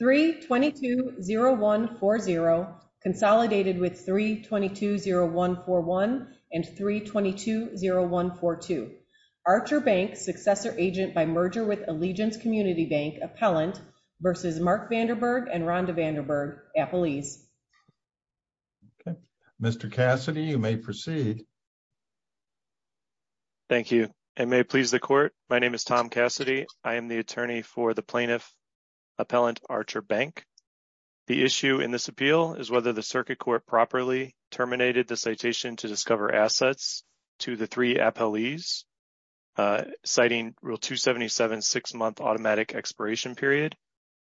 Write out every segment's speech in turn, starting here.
3-22-0140 consolidated with 3-22-0141 and 3-22-0142. Archer Bank, successor agent by merger with Allegiance Community Bank, appellant, v. Mark Vanderberg and Rhonda Vanderberg, appellees. Mr. Cassidy, you may proceed. Thank you. And may it please the Court, my name is Tom Cassidy. I am the attorney for the plaintiff, appellant, Archer Bank. The issue in this appeal is whether the circuit court properly terminated the citation to discover assets to the three appellees, citing Rule 277 six-month automatic expiration period,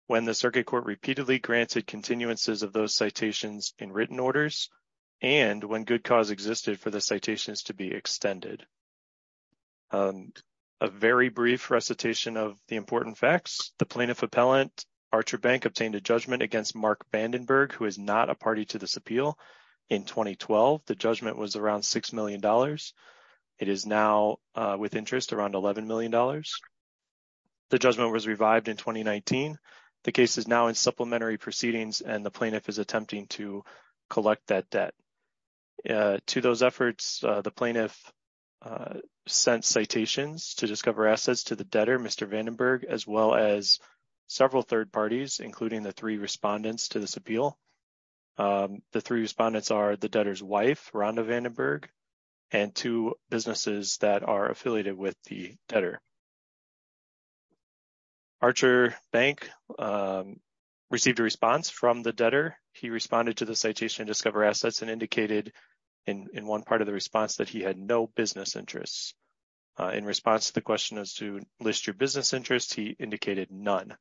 when the circuit court repeatedly granted continuances of those citations in written orders, and when good cause existed for the citations to be extended. A very brief recitation of the important facts. The plaintiff, appellant, Archer Bank, obtained a judgment against Mark Vandenberg, who is not a party to this appeal, in 2012. The judgment was around $6 million. It is now with interest around $11 million. The judgment was revived in 2019. The case is now in supplementary proceedings, and the plaintiff is attempting to collect that debt. To those efforts, the plaintiff sent citations to discover assets to the debtor, Mr. Vandenberg, as well as several third parties, including the three respondents to this appeal. The three respondents are the debtor's wife, Rhonda Vandenberg, and two businesses that are affiliated with the debtor. Archer Bank received a response from the debtor. He responded to the citation to discover assets and indicated in one part of the response that he had no business interests. In response to the question as to list your business interests, he indicated none.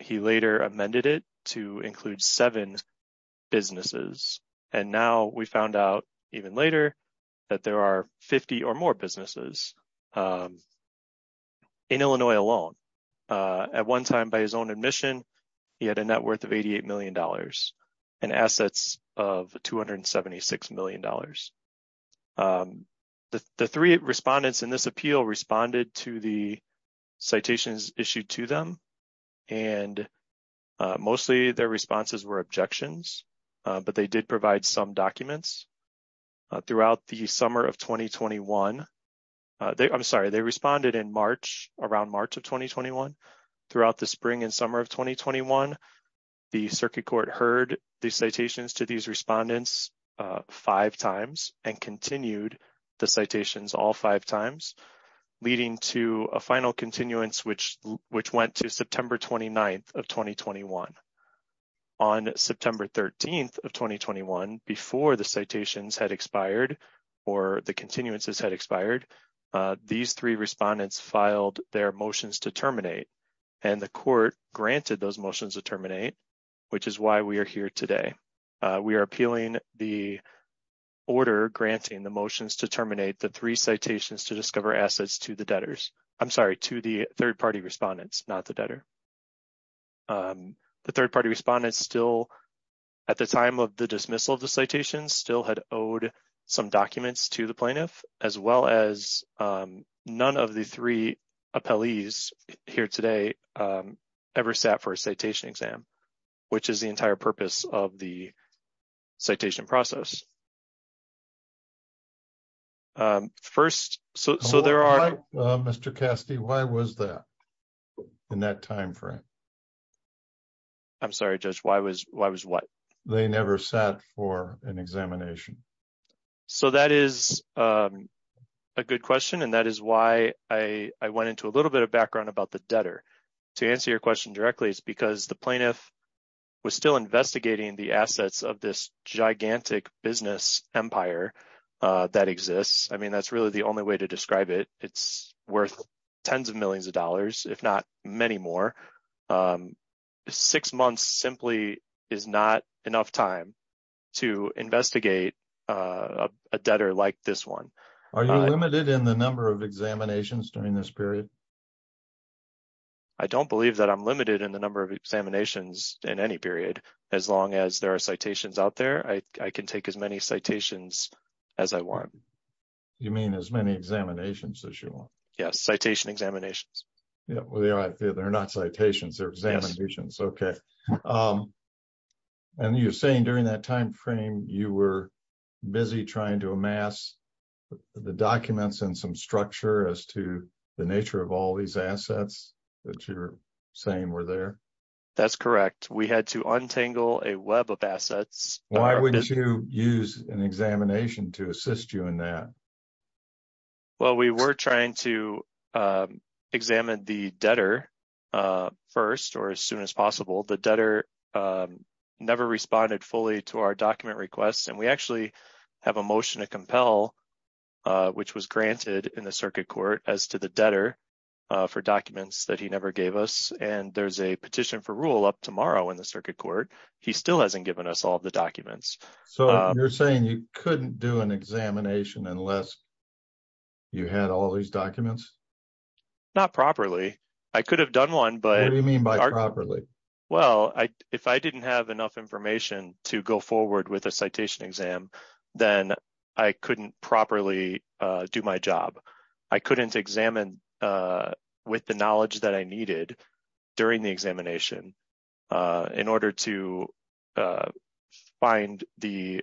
He later amended it to include seven businesses, and now we found out even later that there are 50 or more businesses in Illinois alone. At one time, by his own admission, he had a net worth of $88 million and assets of $276 million. The three respondents in this appeal responded to the citations issued to them, and mostly their responses were objections, but they did provide some documents. Throughout the summer of 2021, I'm sorry, they responded in March, around March of 2021. Throughout the spring and summer of 2021, the Circuit Court heard the citations to these respondents five times and continued the citations all five times, leading to a final continuance, which went to September 29th of 2021. On September 13th of 2021, before the citations had expired or the continuances had expired, these three respondents filed their motions to terminate, and the Court granted those motions to terminate, which is why we are here today. We are appealing the order granting the motions to terminate the three citations to discover assets to the debtors. I'm sorry, to the third-party respondents, not the debtor. The third-party respondents still, at the time of the dismissal of the citations, still had owed some documents to the plaintiff, as well as none of the three appellees here today ever sat for a citation exam, which is the entire purpose of the citation process. First, so there are... Mr. Cassidy, why was that in that time frame? I'm sorry, Judge, why was what? They never sat for an examination. So that is a good question, and that is why I went into a little bit of background about the debtor. To answer your question directly, it's because the plaintiff was still investigating the assets of this gigantic business empire that exists. I mean, that's really the only way to describe it. It's worth tens of millions of dollars, if not many more. Six months simply is not enough time to investigate a debtor like this one. Are you limited in the number of examinations during this period? I don't believe that I'm limited in the number of examinations in any period. As long as there are citations out there, I can take as many citations as I want. You mean as many examinations as you want? Yes, citation examinations. Yeah, well, they're not citations. They're examinations. Okay. And you're saying during that time frame, you were busy trying to amass the documents and some structure as to the nature of all these assets that you're saying were there? That's correct. We had to untangle a web of assets. Why would you use an examination to assist you in that? Well, we were trying to examine the debtor first or as soon as possible. The debtor never responded fully to our document requests, and we actually have a motion to compel, which was granted in the circuit court as to the debtor for documents that he never gave us. And there's a petition for rule up tomorrow in the circuit court. He still hasn't given us all the documents. So you're saying you couldn't do an examination unless you had all these documents? Not properly. I could have done one, but... What do you mean by properly? Well, if I didn't have enough information to go forward with a citation exam, then I couldn't properly do my job. I couldn't examine with the knowledge that I needed during the examination in order to find the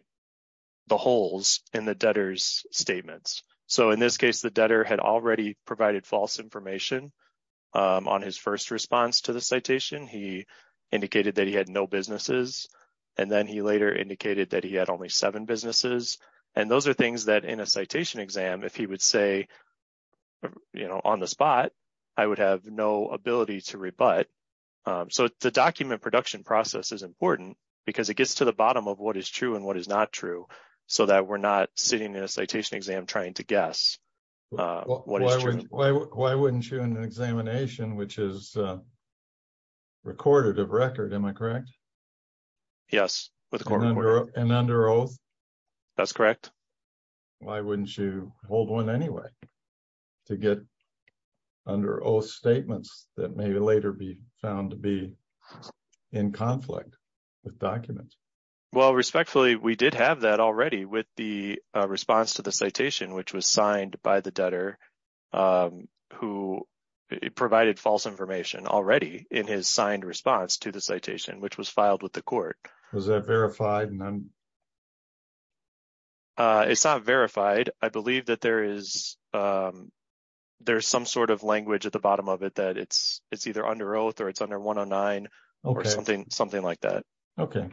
holes in the debtor's statements. So in this case, the debtor had already provided false information on his first response to the citation. He indicated that he had no businesses, and then he later indicated that he had only seven businesses. And those are things that in a citation exam, if he would say on the spot, I would have no ability to rebut. So the document production process is important because it gets to the bottom of what is true and what is not true so that we're not sitting in a citation exam trying to guess what is true. Why wouldn't you in an examination, which is recorded of record, am I correct? Yes. And under oath? That's correct. Why wouldn't you hold one anyway to get under oath statements that may later be found to be in conflict with documents? Well, respectfully, we did have that already with the response to the citation, which was signed by the debtor who provided false information already in his signed response to the citation, which was filed with the court. Was that verified? It's not verified. I believe that there is some sort of language at the bottom of it that it's either under oath or it's under 109 or something like that. Okay.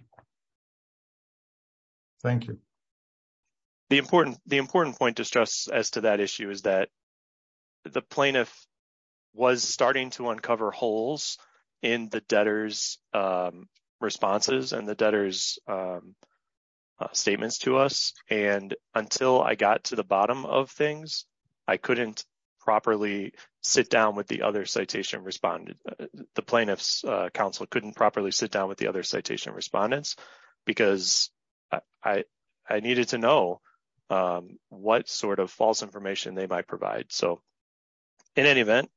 Thank you. The important point to stress as to that issue is that the plaintiff was starting to uncover holes in the debtor's responses and the debtor's statements to us. And until I got to the bottom of things, I couldn't properly sit down with the other citation respondent. The plaintiff's counsel couldn't properly sit down with the other citation respondents because I needed to know what sort of false information they might provide. So in any event,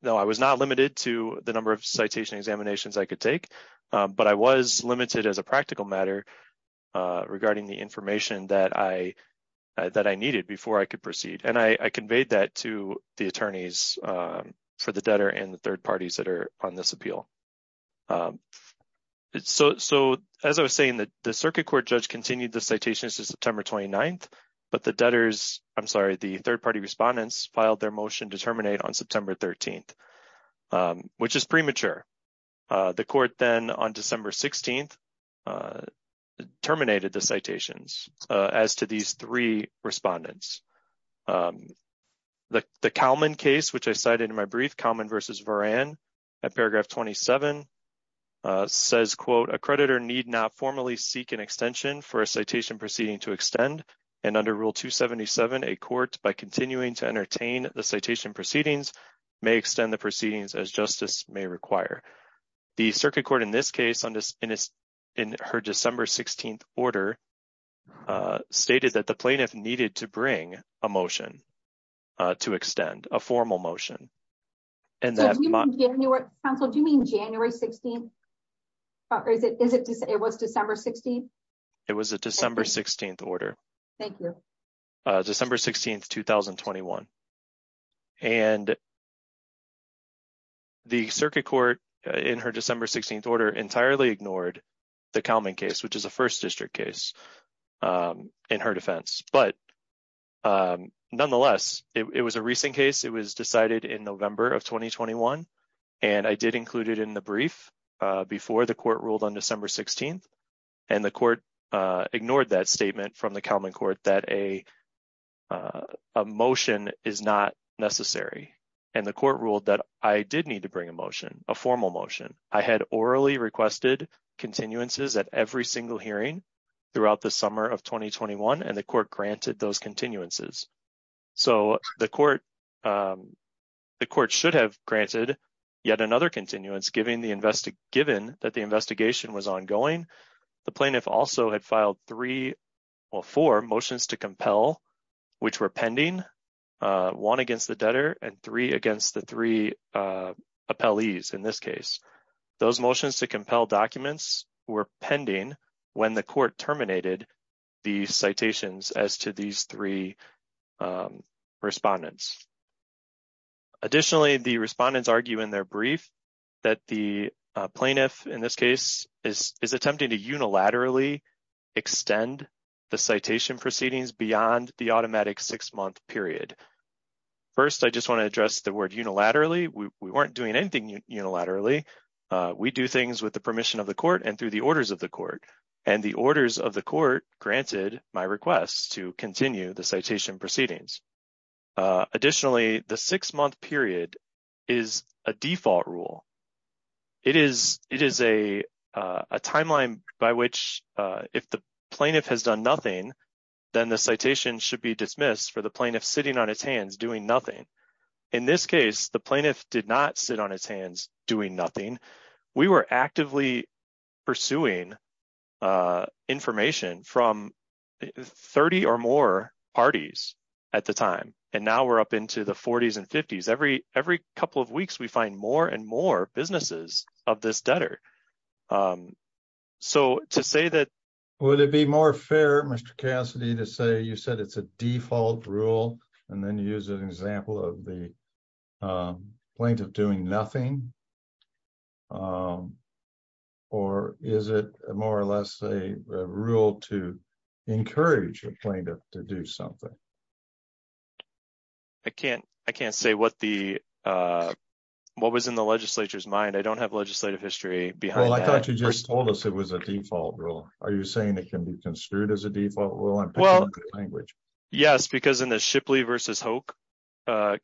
no, I was not limited to the number of citation examinations I could take, but I was limited as a practical matter regarding the information that I needed before I could proceed. And I conveyed that to the attorneys for the debtor and the third parties that are on this appeal. So as I was saying, the circuit court judge continued the citations to September 29th, but the debtors, I'm sorry, the third-party respondents filed their motion to terminate on September 13th, which is premature. The court then on December 16th terminated the citations as to these three respondents. The Kalman case, which I cited in my brief, Kalman v. Varan at paragraph 27, says, quote, A creditor need not formally seek an extension for a citation proceeding to extend, and under Rule 277, a court, by continuing to entertain the citation proceedings, may extend the proceedings as justice may require. The circuit court in this case, in her December 16th order, stated that the plaintiff needed to bring a motion to extend, a formal motion. And that- So do you mean January, counsel, do you mean January 16th? Or is it, it was December 16th? It was a December 16th order. Thank you. December 16th, 2021. And the circuit court, in her December 16th order, entirely ignored the Kalman case, which is a first district case in her defense. Nonetheless, it was a recent case. It was decided in November of 2021. And I did include it in the brief before the court ruled on December 16th. And the court ignored that statement from the Kalman court that a motion is not necessary. And the court ruled that I did need to bring a motion, a formal motion. I had orally requested continuances at every single hearing throughout the summer of 2021, and the court granted those continuances. So the court, the court should have granted yet another continuance given the invest- given that the investigation was ongoing. The plaintiff also had filed three or four motions to compel, which were pending. One against the debtor and three against the three appellees in this case. Those motions to compel documents were pending when the court terminated the citations as to these three respondents. Additionally, the respondents argue in their brief that the plaintiff, in this case, is attempting to unilaterally extend the citation proceedings beyond the automatic six-month period. First, I just want to address the word unilaterally. We weren't doing anything unilaterally. We do things with the permission of the court and through the orders of the court. And the orders of the court granted my request to continue the citation proceedings. Additionally, the six-month period is a default rule. It is it is a timeline by which if the plaintiff has done nothing, then the citation should be dismissed for the plaintiff sitting on his hands doing nothing. In this case, the plaintiff did not sit on his hands doing nothing. We were actively pursuing information from 30 or more parties at the time. And now we're up into the 40s and 50s. Every every couple of weeks, we find more and more businesses of this debtor. So to say that, would it be more fair, Mr. Cassidy, to say you said it's a default rule and then use an example of the plaintiff doing nothing? Or is it more or less a rule to encourage a plaintiff to do something? I can't I can't say what the what was in the legislature's mind. I don't have legislative history behind. Well, I thought you just told us it was a default rule. Are you saying it can be construed as a default rule? Well, yes, because in the Shipley versus Hoke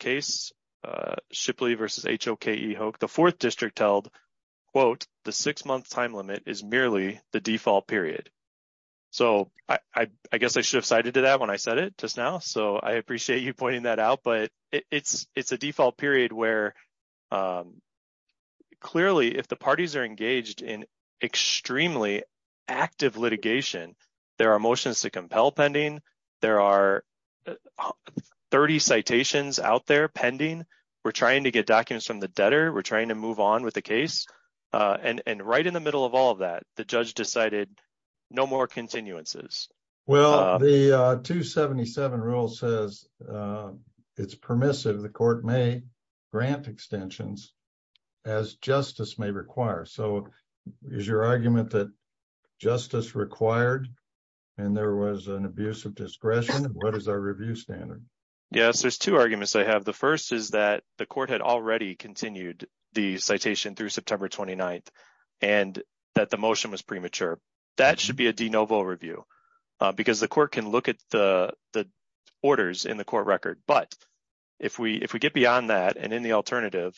case, Shipley versus Hoke, the 4th district held, quote, the six-month time limit is merely the default period. So I guess I should have cited to that when I said it just now. So I appreciate you pointing that out. But it's it's a default period where clearly if the parties are engaged in extremely active litigation, there are motions to compel pending. There are 30 citations out there pending. We're trying to get documents from the debtor. We're trying to move on with the case. And right in the middle of all of that, the judge decided no more continuances. Well, the 277 rule says it's permissive. The court may grant extensions as justice may require. So is your argument that justice required and there was an abuse of discretion? What is our review standard? Yes, there's two arguments I have. The first is that the court had already continued the citation through September 29th and that the motion was premature. That should be a de novo review because the court can look at the orders in the court record. But if we if we get beyond that and in the alternative,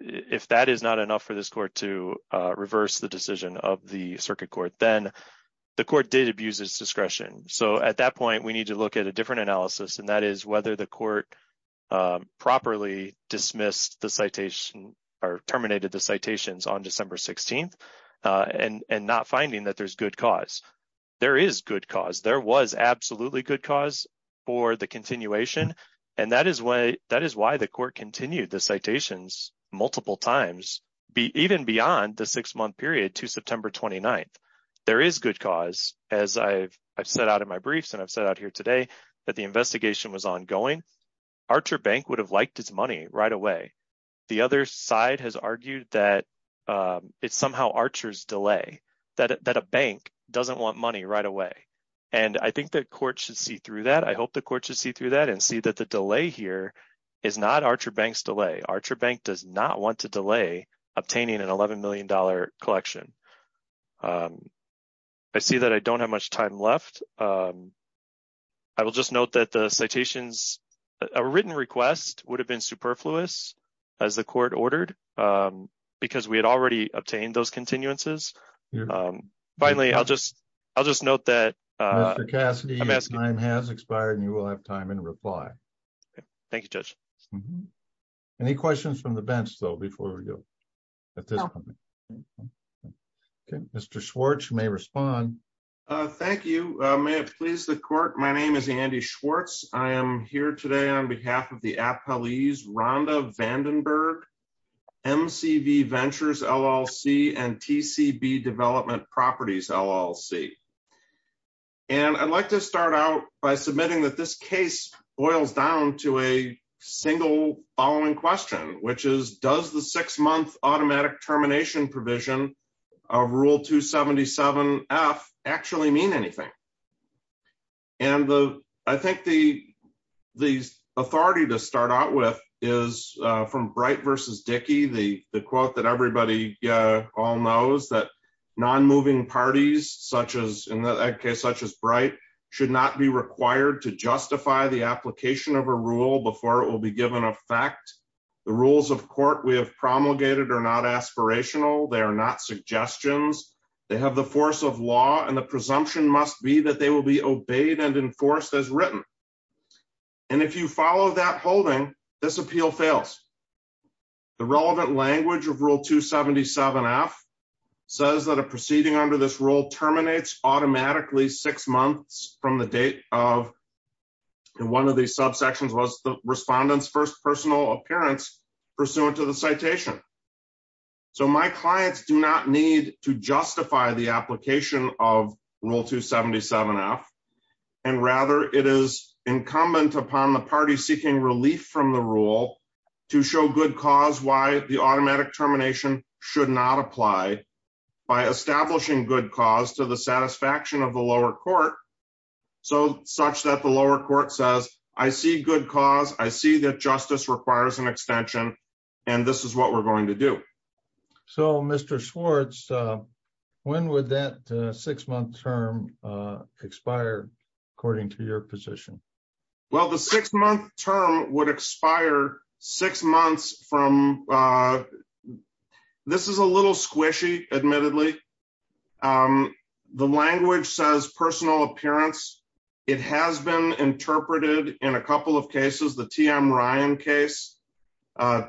if that is not enough for this court to reverse the decision of the circuit court, then the court did abuse its discretion. So at that point, we need to look at a different analysis, and that is whether the court properly dismissed the citation or terminated the citations on December 16th and not finding that there's good cause. There is good cause. There was absolutely good cause for the continuation. And that is why that is why the court continued the citations multiple times, even beyond the six month period to September 29th. There is good cause, as I've said out of my briefs and I've said out here today that the investigation was ongoing. Archer Bank would have liked its money right away. The other side has argued that it's somehow Archer's delay that a bank doesn't want money right away. And I think the court should see through that. I hope the court should see through that and see that the delay here is not Archer Bank's delay. Archer Bank does not want to delay obtaining an $11 million collection. I see that I don't have much time left. I will just note that the citations, a written request would have been superfluous, as the court ordered, because we had already obtained those continuances. Finally, I'll just, I'll just note that. Mr. Cassidy, your time has expired and you will have time in reply. Thank you, Judge. Any questions from the bench, though, before we go? Mr. Schwartz, you may respond. Thank you. May it please the court. My name is Andy Schwartz. I am here today on behalf of the appellees, Rhonda Vandenberg, MCV Ventures LLC, and TCB Development Properties LLC. And I'd like to start out by submitting that this case boils down to a single following question, which is, does the six-month automatic termination provision of Rule 277F actually mean anything? And I think the authority to start out with is from Bright v. Dickey, the quote that everybody all knows, that non-moving parties such as, in that case, such as Bright, should not be required to justify the application of a rule before it will be given effect. The rules of court we have promulgated are not aspirational. They are not suggestions. They have the force of law, and the presumption must be that they will be obeyed and enforced as written. And if you follow that holding, this appeal fails. The relevant language of Rule 277F says that a proceeding under this rule terminates automatically six months from the date of, and one of these subsections was the respondent's first personal appearance pursuant to the citation. So my clients do not need to justify the application of Rule 277F, and rather it is incumbent upon the party seeking relief from the rule to show good cause why the automatic termination should not apply by establishing good cause to the satisfaction of the lower court, such that the lower court says, I see good cause, I see that justice requires an extension, and this is what we're going to do. So, Mr. Schwartz, when would that six-month term expire, according to your position? Well, the six-month term would expire six months from, this is a little squishy, admittedly. The language says personal appearance. It has been interpreted in a couple of cases. The TM Ryan case cited,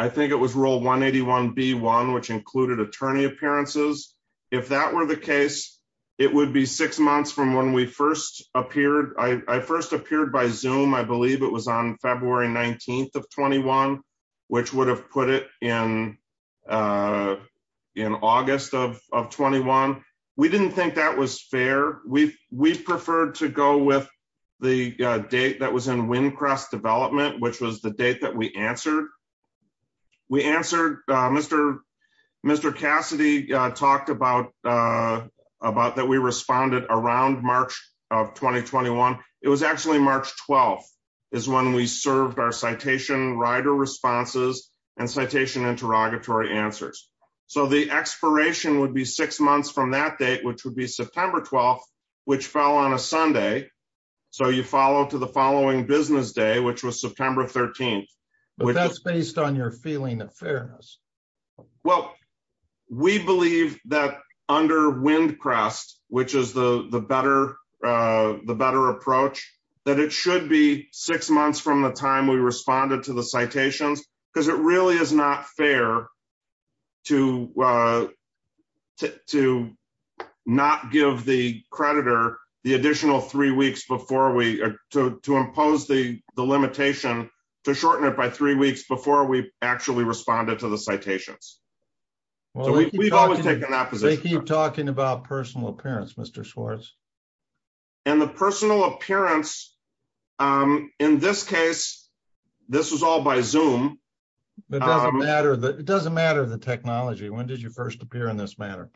I think it was Rule 181B1, which included attorney appearances. If that were the case, it would be six months from when we first appeared. I first appeared by Zoom, I believe it was on February 19th of 21, which would have put it in August of 21. We didn't think that was fair. We preferred to go with the date that was in Wincrest Development, which was the date that we answered. We answered, Mr. Cassidy talked about that we responded around March of 2021. It was actually March 12th is when we served our citation rider responses and citation interrogatory answers. So, the expiration would be six months from that date, which would be September 12th, which fell on a Sunday. So, you follow to the following business day, which was September 13th. But that's based on your feeling of fairness. Well, we believe that under Wincrest, which is the better approach, that it should be six months from the time we responded to the citations. Because it really is not fair to not give the creditor the additional three weeks to impose the limitation to shorten it by three weeks before we actually responded to the citations. So, we've always taken that position. They keep talking about personal appearance, Mr. Schwartz. And the personal appearance, in this case, this was all by Zoom. It doesn't matter the technology. When did you first appear in this manner?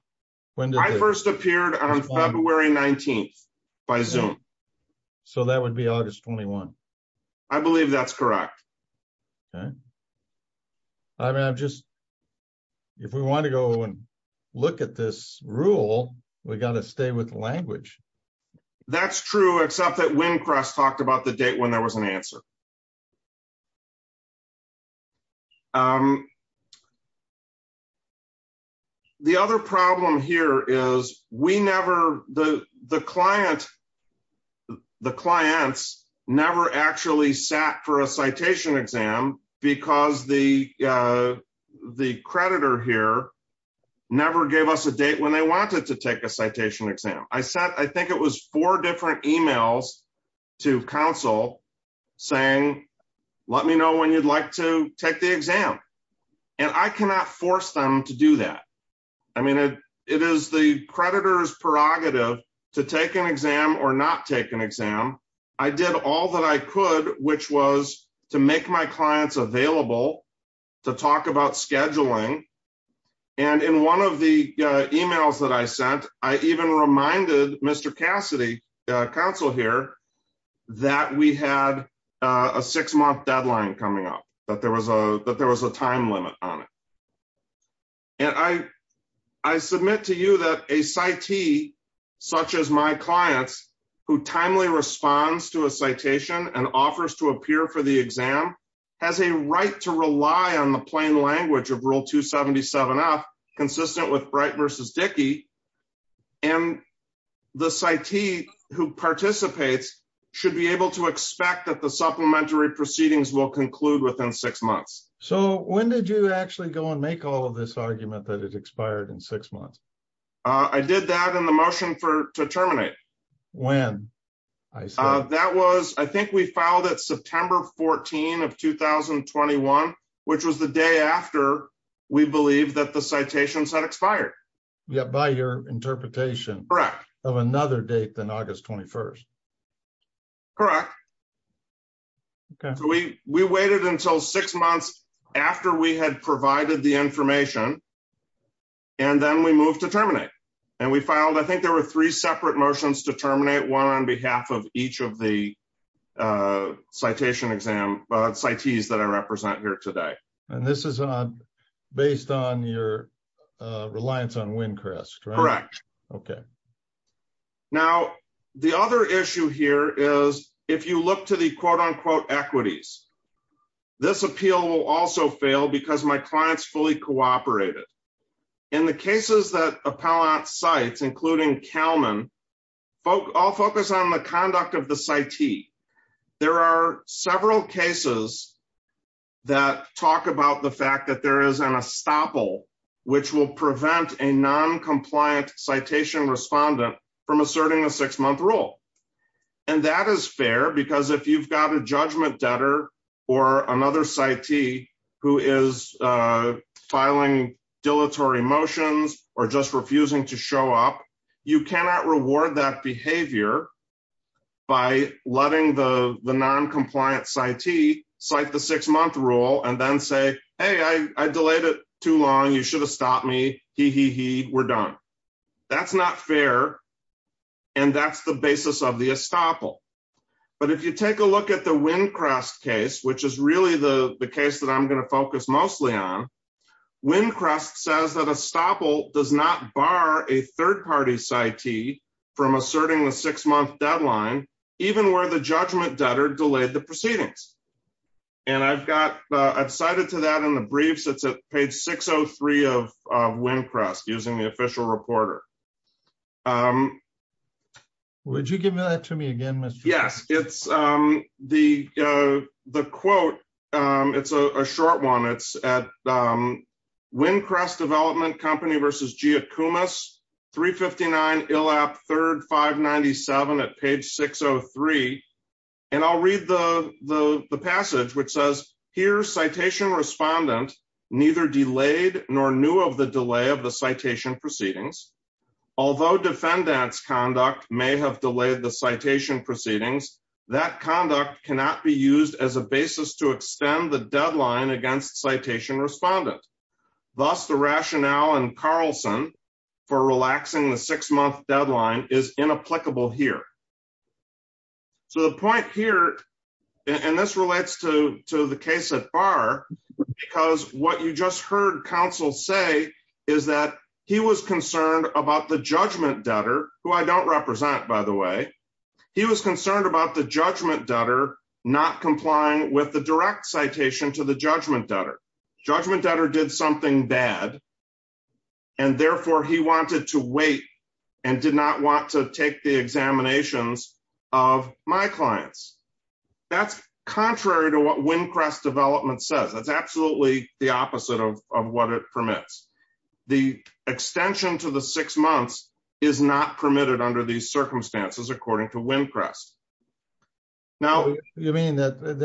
I first appeared on February 19th by Zoom. So, that would be August 21. I believe that's correct. I mean, if we want to go and look at this rule, we've got to stay with language. That's true, except that Wincrest talked about the date when there was an answer. The other problem here is the clients never actually sat for a citation exam because the creditor here never gave us a date when they wanted to take a citation exam. I think it was four different emails to counsel saying, let me know when you'd like to take the exam. And I cannot force them to do that. I mean, it is the creditor's prerogative to take an exam or not take an exam. I did all that I could, which was to make my clients available to talk about scheduling. And in one of the emails that I sent, I even reminded Mr. Cassidy, counsel here, that we had a six-month deadline coming up, that there was a time limit on it. And I submit to you that a CIT, such as my clients, who timely responds to a citation and offers to appear for the exam, has a right to rely on the plain language of Rule 277F, consistent with Bright v. Dickey. And the CIT who participates should be able to expect that the supplementary proceedings will conclude within six months. So when did you actually go and make all of this argument that it expired in six months? I did that in the motion to terminate. When? That was, I think we filed it September 14 of 2021, which was the day after we believed that the citations had expired. Yeah, by your interpretation. Correct. Of another date than August 21st. Correct. We waited until six months after we had provided the information, and then we moved to terminate. And we filed, I think there were three separate motions to terminate, one on behalf of each of the citation exam CITs that I represent here today. And this is based on your reliance on Wincrest, right? Correct. Okay. Now, the other issue here is, if you look to the quote unquote equities, this appeal will also fail because my client's fully cooperated. In the cases that appellant cites, including Kalman, I'll focus on the conduct of the CIT. There are several cases that talk about the fact that there is an estoppel, which will prevent a noncompliant citation respondent from asserting a six-month rule. And that is fair because if you've got a judgment debtor or another CIT who is filing dilatory motions or just refusing to show up, you cannot reward that behavior by letting the noncompliant CIT cite the six-month rule and then say, hey, I delayed it too long, you should have stopped me, hee hee hee, we're done. That's not fair, and that's the basis of the estoppel. But if you take a look at the Wincrest case, which is really the case that I'm going to focus mostly on, Wincrest says that estoppel does not bar a third-party CIT from asserting the six-month deadline, even where the judgment debtor delayed the proceedings. And I've cited to that in the briefs, it's at page 603 of Wincrest, using the official reporter. Would you give that to me again, Mr. The quote, it's a short one, it's at Wincrest Development Company v. Giacomus, 359 ILAP 3rd 597 at page 603. And I'll read the passage, which says, here citation respondent neither delayed nor knew of the delay of the citation proceedings. Although defendants conduct may have delayed the citation proceedings, that conduct cannot be used as a basis to extend the deadline against citation respondent. Thus the rationale in Carlson for relaxing the six-month deadline is inapplicable here. So the point here, and this relates to the case at bar, because what you just heard counsel say is that he was concerned about the judgment debtor, who I don't represent, by the way. He was concerned about the judgment debtor not complying with the direct citation to the judgment debtor. Judgment debtor did something bad. And therefore, he wanted to wait and did not want to take the examinations of my clients. That's contrary to what Wincrest Development says. That's absolutely the opposite of what it permits. The extension to the six months is not permitted under these circumstances, according to Wincrest. You mean that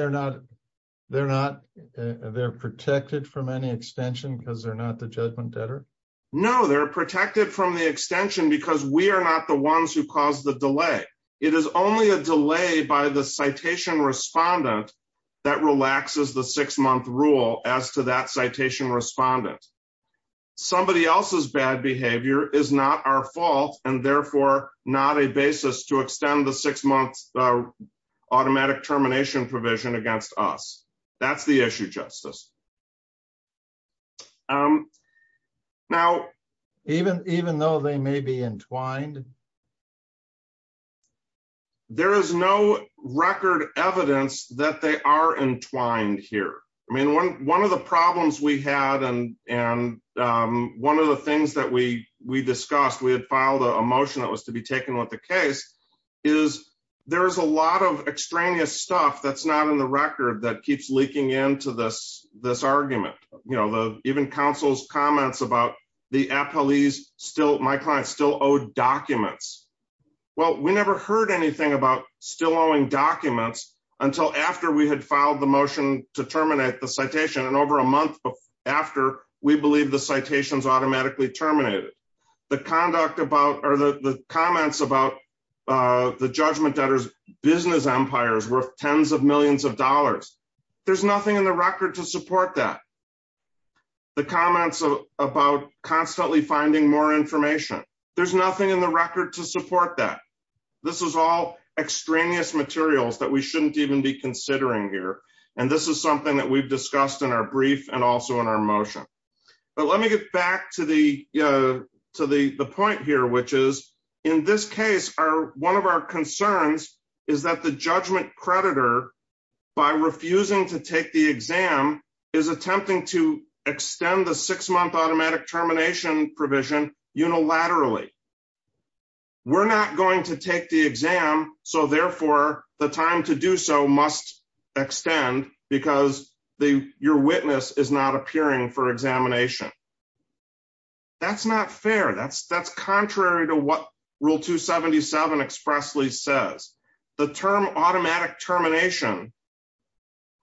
they're protected from any extension because they're not the judgment debtor? No, they're protected from the extension because we are not the ones who caused the delay. It is only a delay by the citation respondent that relaxes the six-month rule as to that citation respondent. Somebody else's bad behavior is not our fault, and therefore not a basis to extend the six-month automatic termination provision against us. That's the issue, Justice. Even though they may be entwined? There is no record evidence that they are entwined here. I mean, one of the problems we had and one of the things that we discussed, we had filed a motion that was to be taken with the case, is there is a lot of extraneous stuff that's not in the record that keeps leaking into this argument. Even counsel's comments about the appellees still owed documents. Well, we never heard anything about still owing documents until after we had filed the motion to terminate the citation, and over a month after, we believe the citation is automatically terminated. The comments about the judgment debtor's business empire is worth tens of millions of dollars. There's nothing in the record to support that. The comments about constantly finding more information, there's nothing in the record to support that. This is all extraneous materials that we shouldn't even be considering here, and this is something that we've discussed in our brief and also in our motion. But let me get back to the point here, which is, in this case, one of our concerns is that the judgment creditor, by refusing to take the exam, is attempting to extend the six-month automatic termination provision unilaterally. We're not going to take the exam, so therefore, the time to do so must extend because your witness is not appearing for examination. That's not fair. That's contrary to what Rule 277 expressly says. The term automatic termination,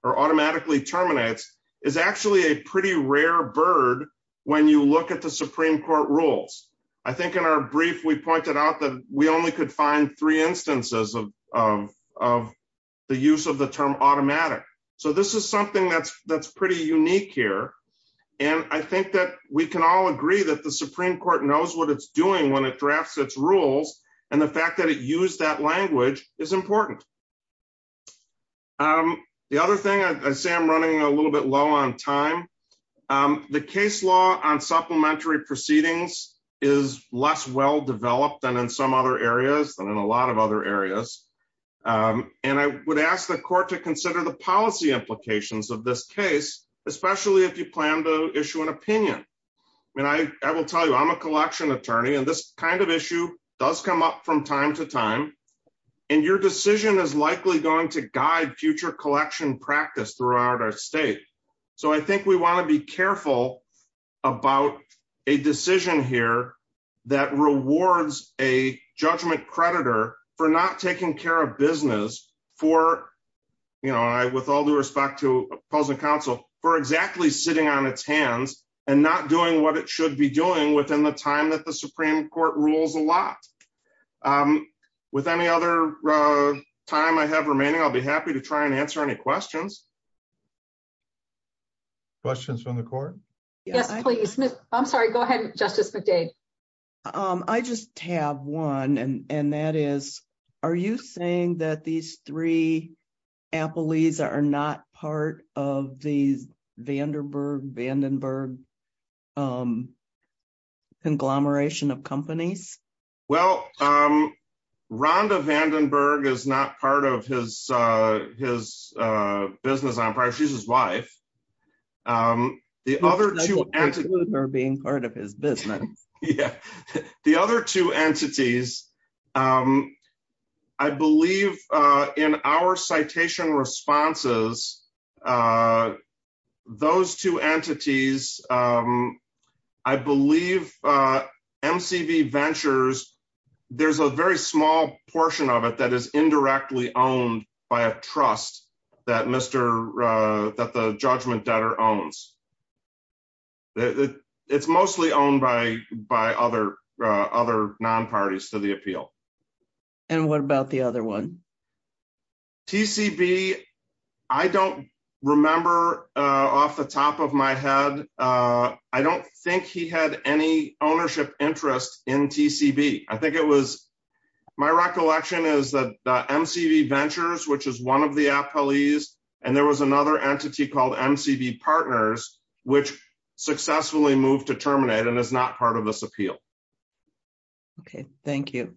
or automatically terminates, is actually a pretty rare bird when you look at the Supreme Court rules. I think in our brief, we pointed out that we only could find three instances of the use of the term automatic, so this is something that's pretty unique here. I think that we can all agree that the Supreme Court knows what it's doing when it drafts its rules, and the fact that it used that language is important. The other thing, I say I'm running a little bit low on time. The case law on supplementary proceedings is less well-developed than in some other areas, than in a lot of other areas, and I would ask the court to consider the policy implications of this case, especially if you plan to issue an opinion. I will tell you, I'm a collection attorney, and this kind of issue does come up from time to time, and your decision is likely going to guide future collection practice throughout our state. I think we want to be careful about a decision here that rewards a judgment creditor for not taking care of business, with all due respect to opposing counsel, for exactly sitting on its hands and not doing what it should be doing within the time that the Supreme Court rules a lot. With any other time I have remaining, I'll be happy to try and answer any questions. Questions from the court? Yes, please. I'm sorry, go ahead, Justice McDade. I just have one, and that is, are you saying that these three appellees are not part of the Vandenberg conglomeration of companies? Well, Rhonda Vandenberg is not part of his business empire, she's his wife. The other two entities... They're being part of his business. There's a very small portion of it that is indirectly owned by a trust that the judgment debtor owns. It's mostly owned by other non-parties to the appeal. And what about the other one? TCB, I don't remember off the top of my head, I don't think he had any ownership interest in TCB. I think it was, my recollection is that MCV Ventures, which is one of the appellees, and there was another entity called MCV Partners, which successfully moved to terminate and is not part of this appeal. Okay, thank you.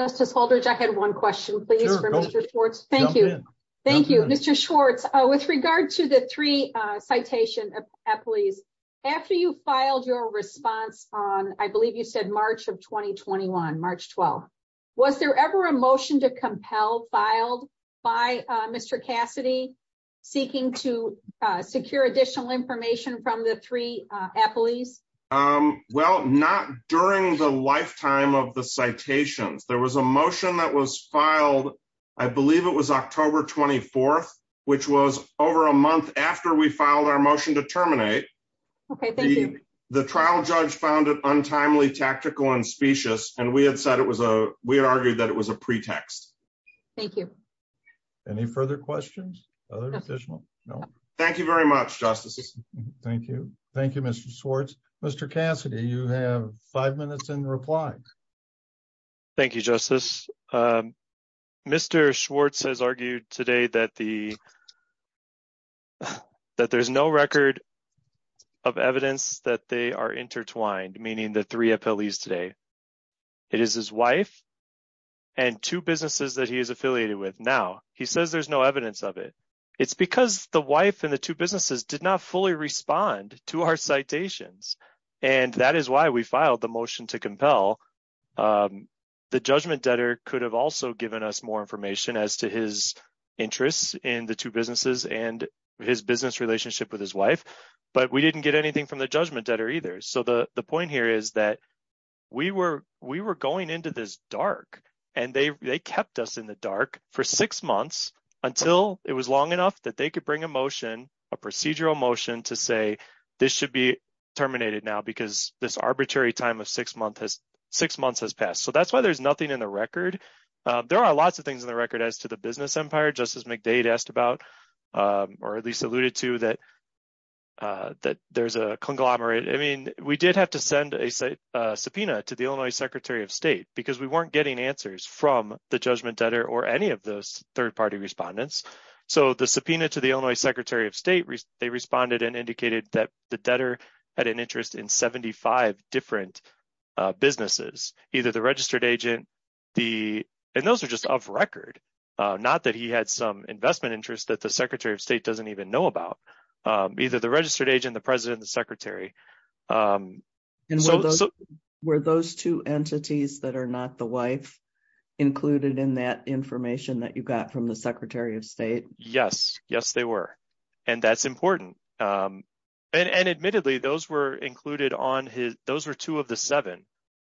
Justice Holdridge, I had one question, please, for Mr. Schwartz. Thank you. Thank you, Mr. Schwartz. With regard to the three citation appellees, after you filed your response on, I believe you said March of 2021, March 12th, was there ever a motion to compel filed by Mr. Cassidy seeking to secure additional information from the three appellees? Well, not during the lifetime of the citations. There was a motion that was filed, I believe it was October 24th, which was over a month after we filed our motion to terminate. Okay, thank you. The trial judge found it untimely, tactical, and specious, and we had argued that it was a pretext. Thank you. Any further questions? No. Thank you very much, Justice. Thank you. Thank you, Mr. Schwartz. Mr. Cassidy, you have five minutes in reply. Thank you, Justice. Mr. Schwartz has argued today that there's no record of evidence that they are intertwined, meaning the three appellees today. It is his wife and two businesses that he is affiliated with now. He says there's no evidence of it. It's because the wife and the two businesses did not fully respond to our citations, and that is why we filed the motion to compel. The judgment debtor could have also given us more information as to his interests in the two businesses and his business relationship with his wife, but we didn't get anything from the judgment debtor either. So the point here is that we were going into this dark, and they kept us in the dark for six months until it was long enough that they could bring a motion, a procedural motion, to say this should be terminated now because this arbitrary time of six months has passed. So that's why there's nothing in the record. There are lots of things in the record as to the business empire, just as McDade asked about, or at least alluded to, that there's a conglomerate. I mean, we did have to send a subpoena to the Illinois Secretary of State because we weren't getting answers from the judgment debtor or any of those third-party respondents. So the subpoena to the Illinois Secretary of State, they responded and indicated that the debtor had an interest in 75 different businesses, either the registered agent, and those are just off record, not that he had some investment interest that the Secretary of State doesn't even know about, either the registered agent, the president, the secretary. And were those two entities that are not the wife included in that information that you got from the Secretary of State? Yes. Yes, they were. And that's important. And admittedly, those were included on his, those were two of the seven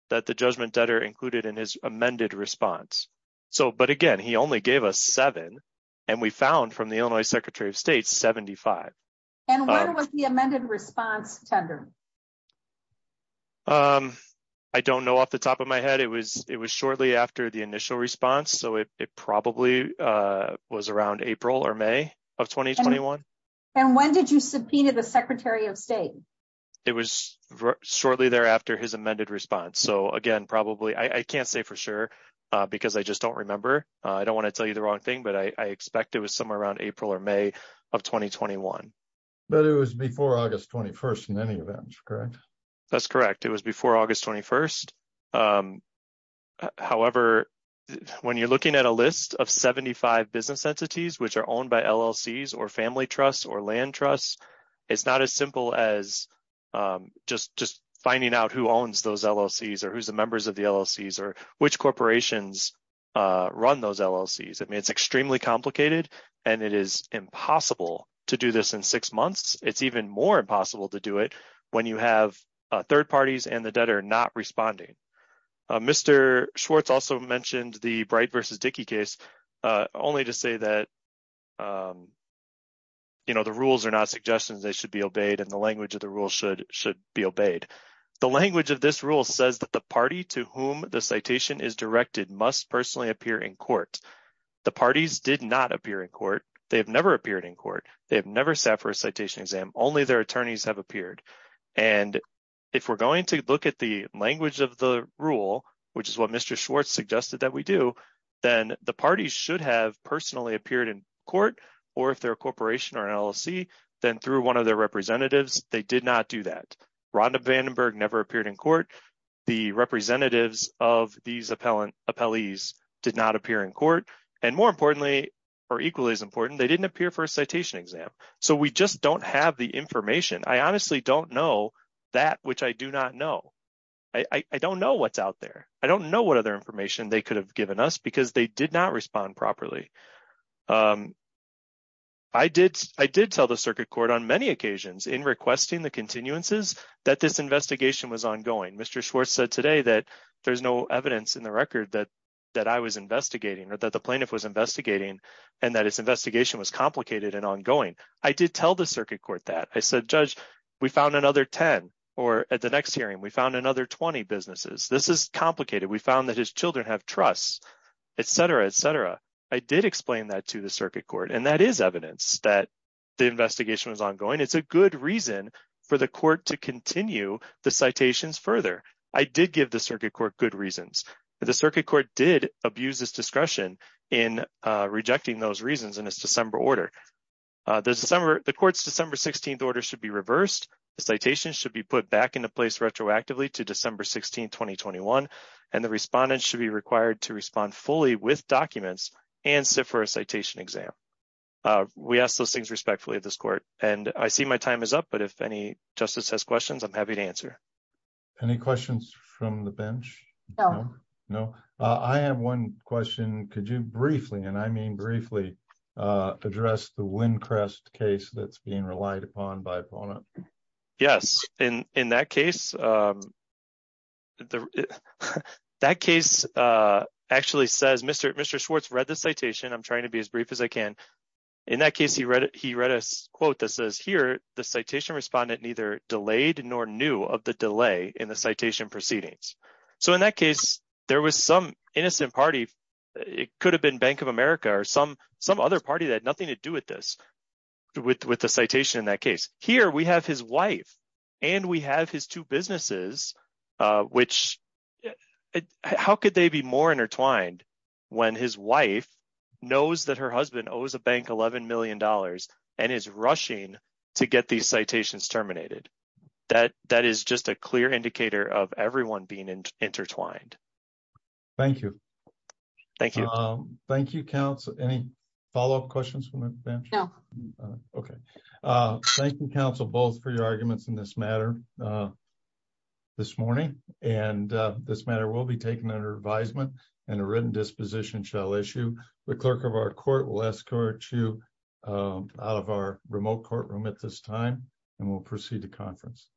that the judgment debtor included in his amended response. So, but again, he only gave us seven, and we found from the Illinois Secretary of State, 75. And when was the amended response tendered? I don't know off the top of my head. It was, it was shortly after the initial response. So it probably was around April or May of 2021. And when did you subpoena the Secretary of State? It was shortly thereafter his amended response. So again, probably, I can't say for sure, because I just don't remember. I don't want to tell you the wrong thing, but I expect it was somewhere around April or May of 2021. But it was before August 21st in any event, correct? That's correct. It was before August 21st. However, when you're looking at a list of 75 business entities, which are owned by LLCs or family trusts or land trusts, it's not as simple as just finding out who owns those LLCs or who's the members of the LLCs or which corporations run those LLCs. I mean, it's extremely complicated, and it is impossible to do this in six months. It's even more impossible to do it when you have third parties and the debtor not responding. Mr. Schwartz also mentioned the Bright v. Dickey case, only to say that, you know, the rules are not suggestions, they should be obeyed and the language of the rule should be obeyed. The language of this rule says that the party to whom the citation is directed must personally appear in court. The parties did not appear in court. They have never appeared in court. They have never sat for a citation exam. Only their attorneys have appeared. And if we're going to look at the language of the rule, which is what Mr. Schwartz suggested that we do, then the parties should have personally appeared in court, or if they're a corporation or an LLC, then through one of their representatives, they did not do that. Rhonda Vandenberg never appeared in court. The representatives of these appellees did not appear in court. And more importantly, or equally as important, they didn't appear for a citation exam. So we just don't have the information. I honestly don't know that which I do not know. I don't know what's out there. I don't know what other information they could have given us because they did not respond properly. I did tell the circuit court on many occasions in requesting the continuances that this investigation was ongoing. Mr. Schwartz said today that there's no evidence in the record that I was investigating or that the plaintiff was investigating and that his investigation was complicated and ongoing. I did tell the circuit court that. I said, Judge, we found another 10. Or at the next hearing, we found another 20 businesses. This is complicated. We found that his children have trusts, etc., etc. I did explain that to the circuit court. And that is evidence that the investigation was ongoing. It's a good reason for the court to continue the citations further. I did give the circuit court good reasons. The circuit court did abuse its discretion in rejecting those reasons in its December order. The court's December 16th order should be reversed. The citation should be put back into place retroactively to December 16, 2021. And the respondent should be required to respond fully with documents and sit for a citation exam. We ask those things respectfully of this court. And I see my time is up. But if any justice has questions, I'm happy to answer. Any questions from the bench? No, no. I have one question. Could you briefly, and I mean briefly, address the Windcrest case that's being relied upon by Pona? Yes. In that case, that case actually says, Mr. Schwartz read the citation. I'm trying to be as brief as I can. In that case, he read a quote that says, here, the citation respondent neither delayed nor knew of the delay in the citation proceedings. So in that case, there was some innocent party. It could have been Bank of America or some other party that had nothing to do with this, with the citation in that case. Here, we have his wife and we have his two businesses, which, how could they be more intertwined when his wife knows that her husband owes a bank $11 million and is rushing to get these citations terminated? That is just a clear indicator of everyone being intertwined. Thank you. Thank you. Thank you, counsel. Any follow-up questions from the bench? No. Okay. Thank you, counsel, both for your arguments in this matter this morning. And this matter will be taken under advisement and a written disposition shall issue. The clerk of our court will escort you out of our remote courtroom at this time, and we'll proceed to conference.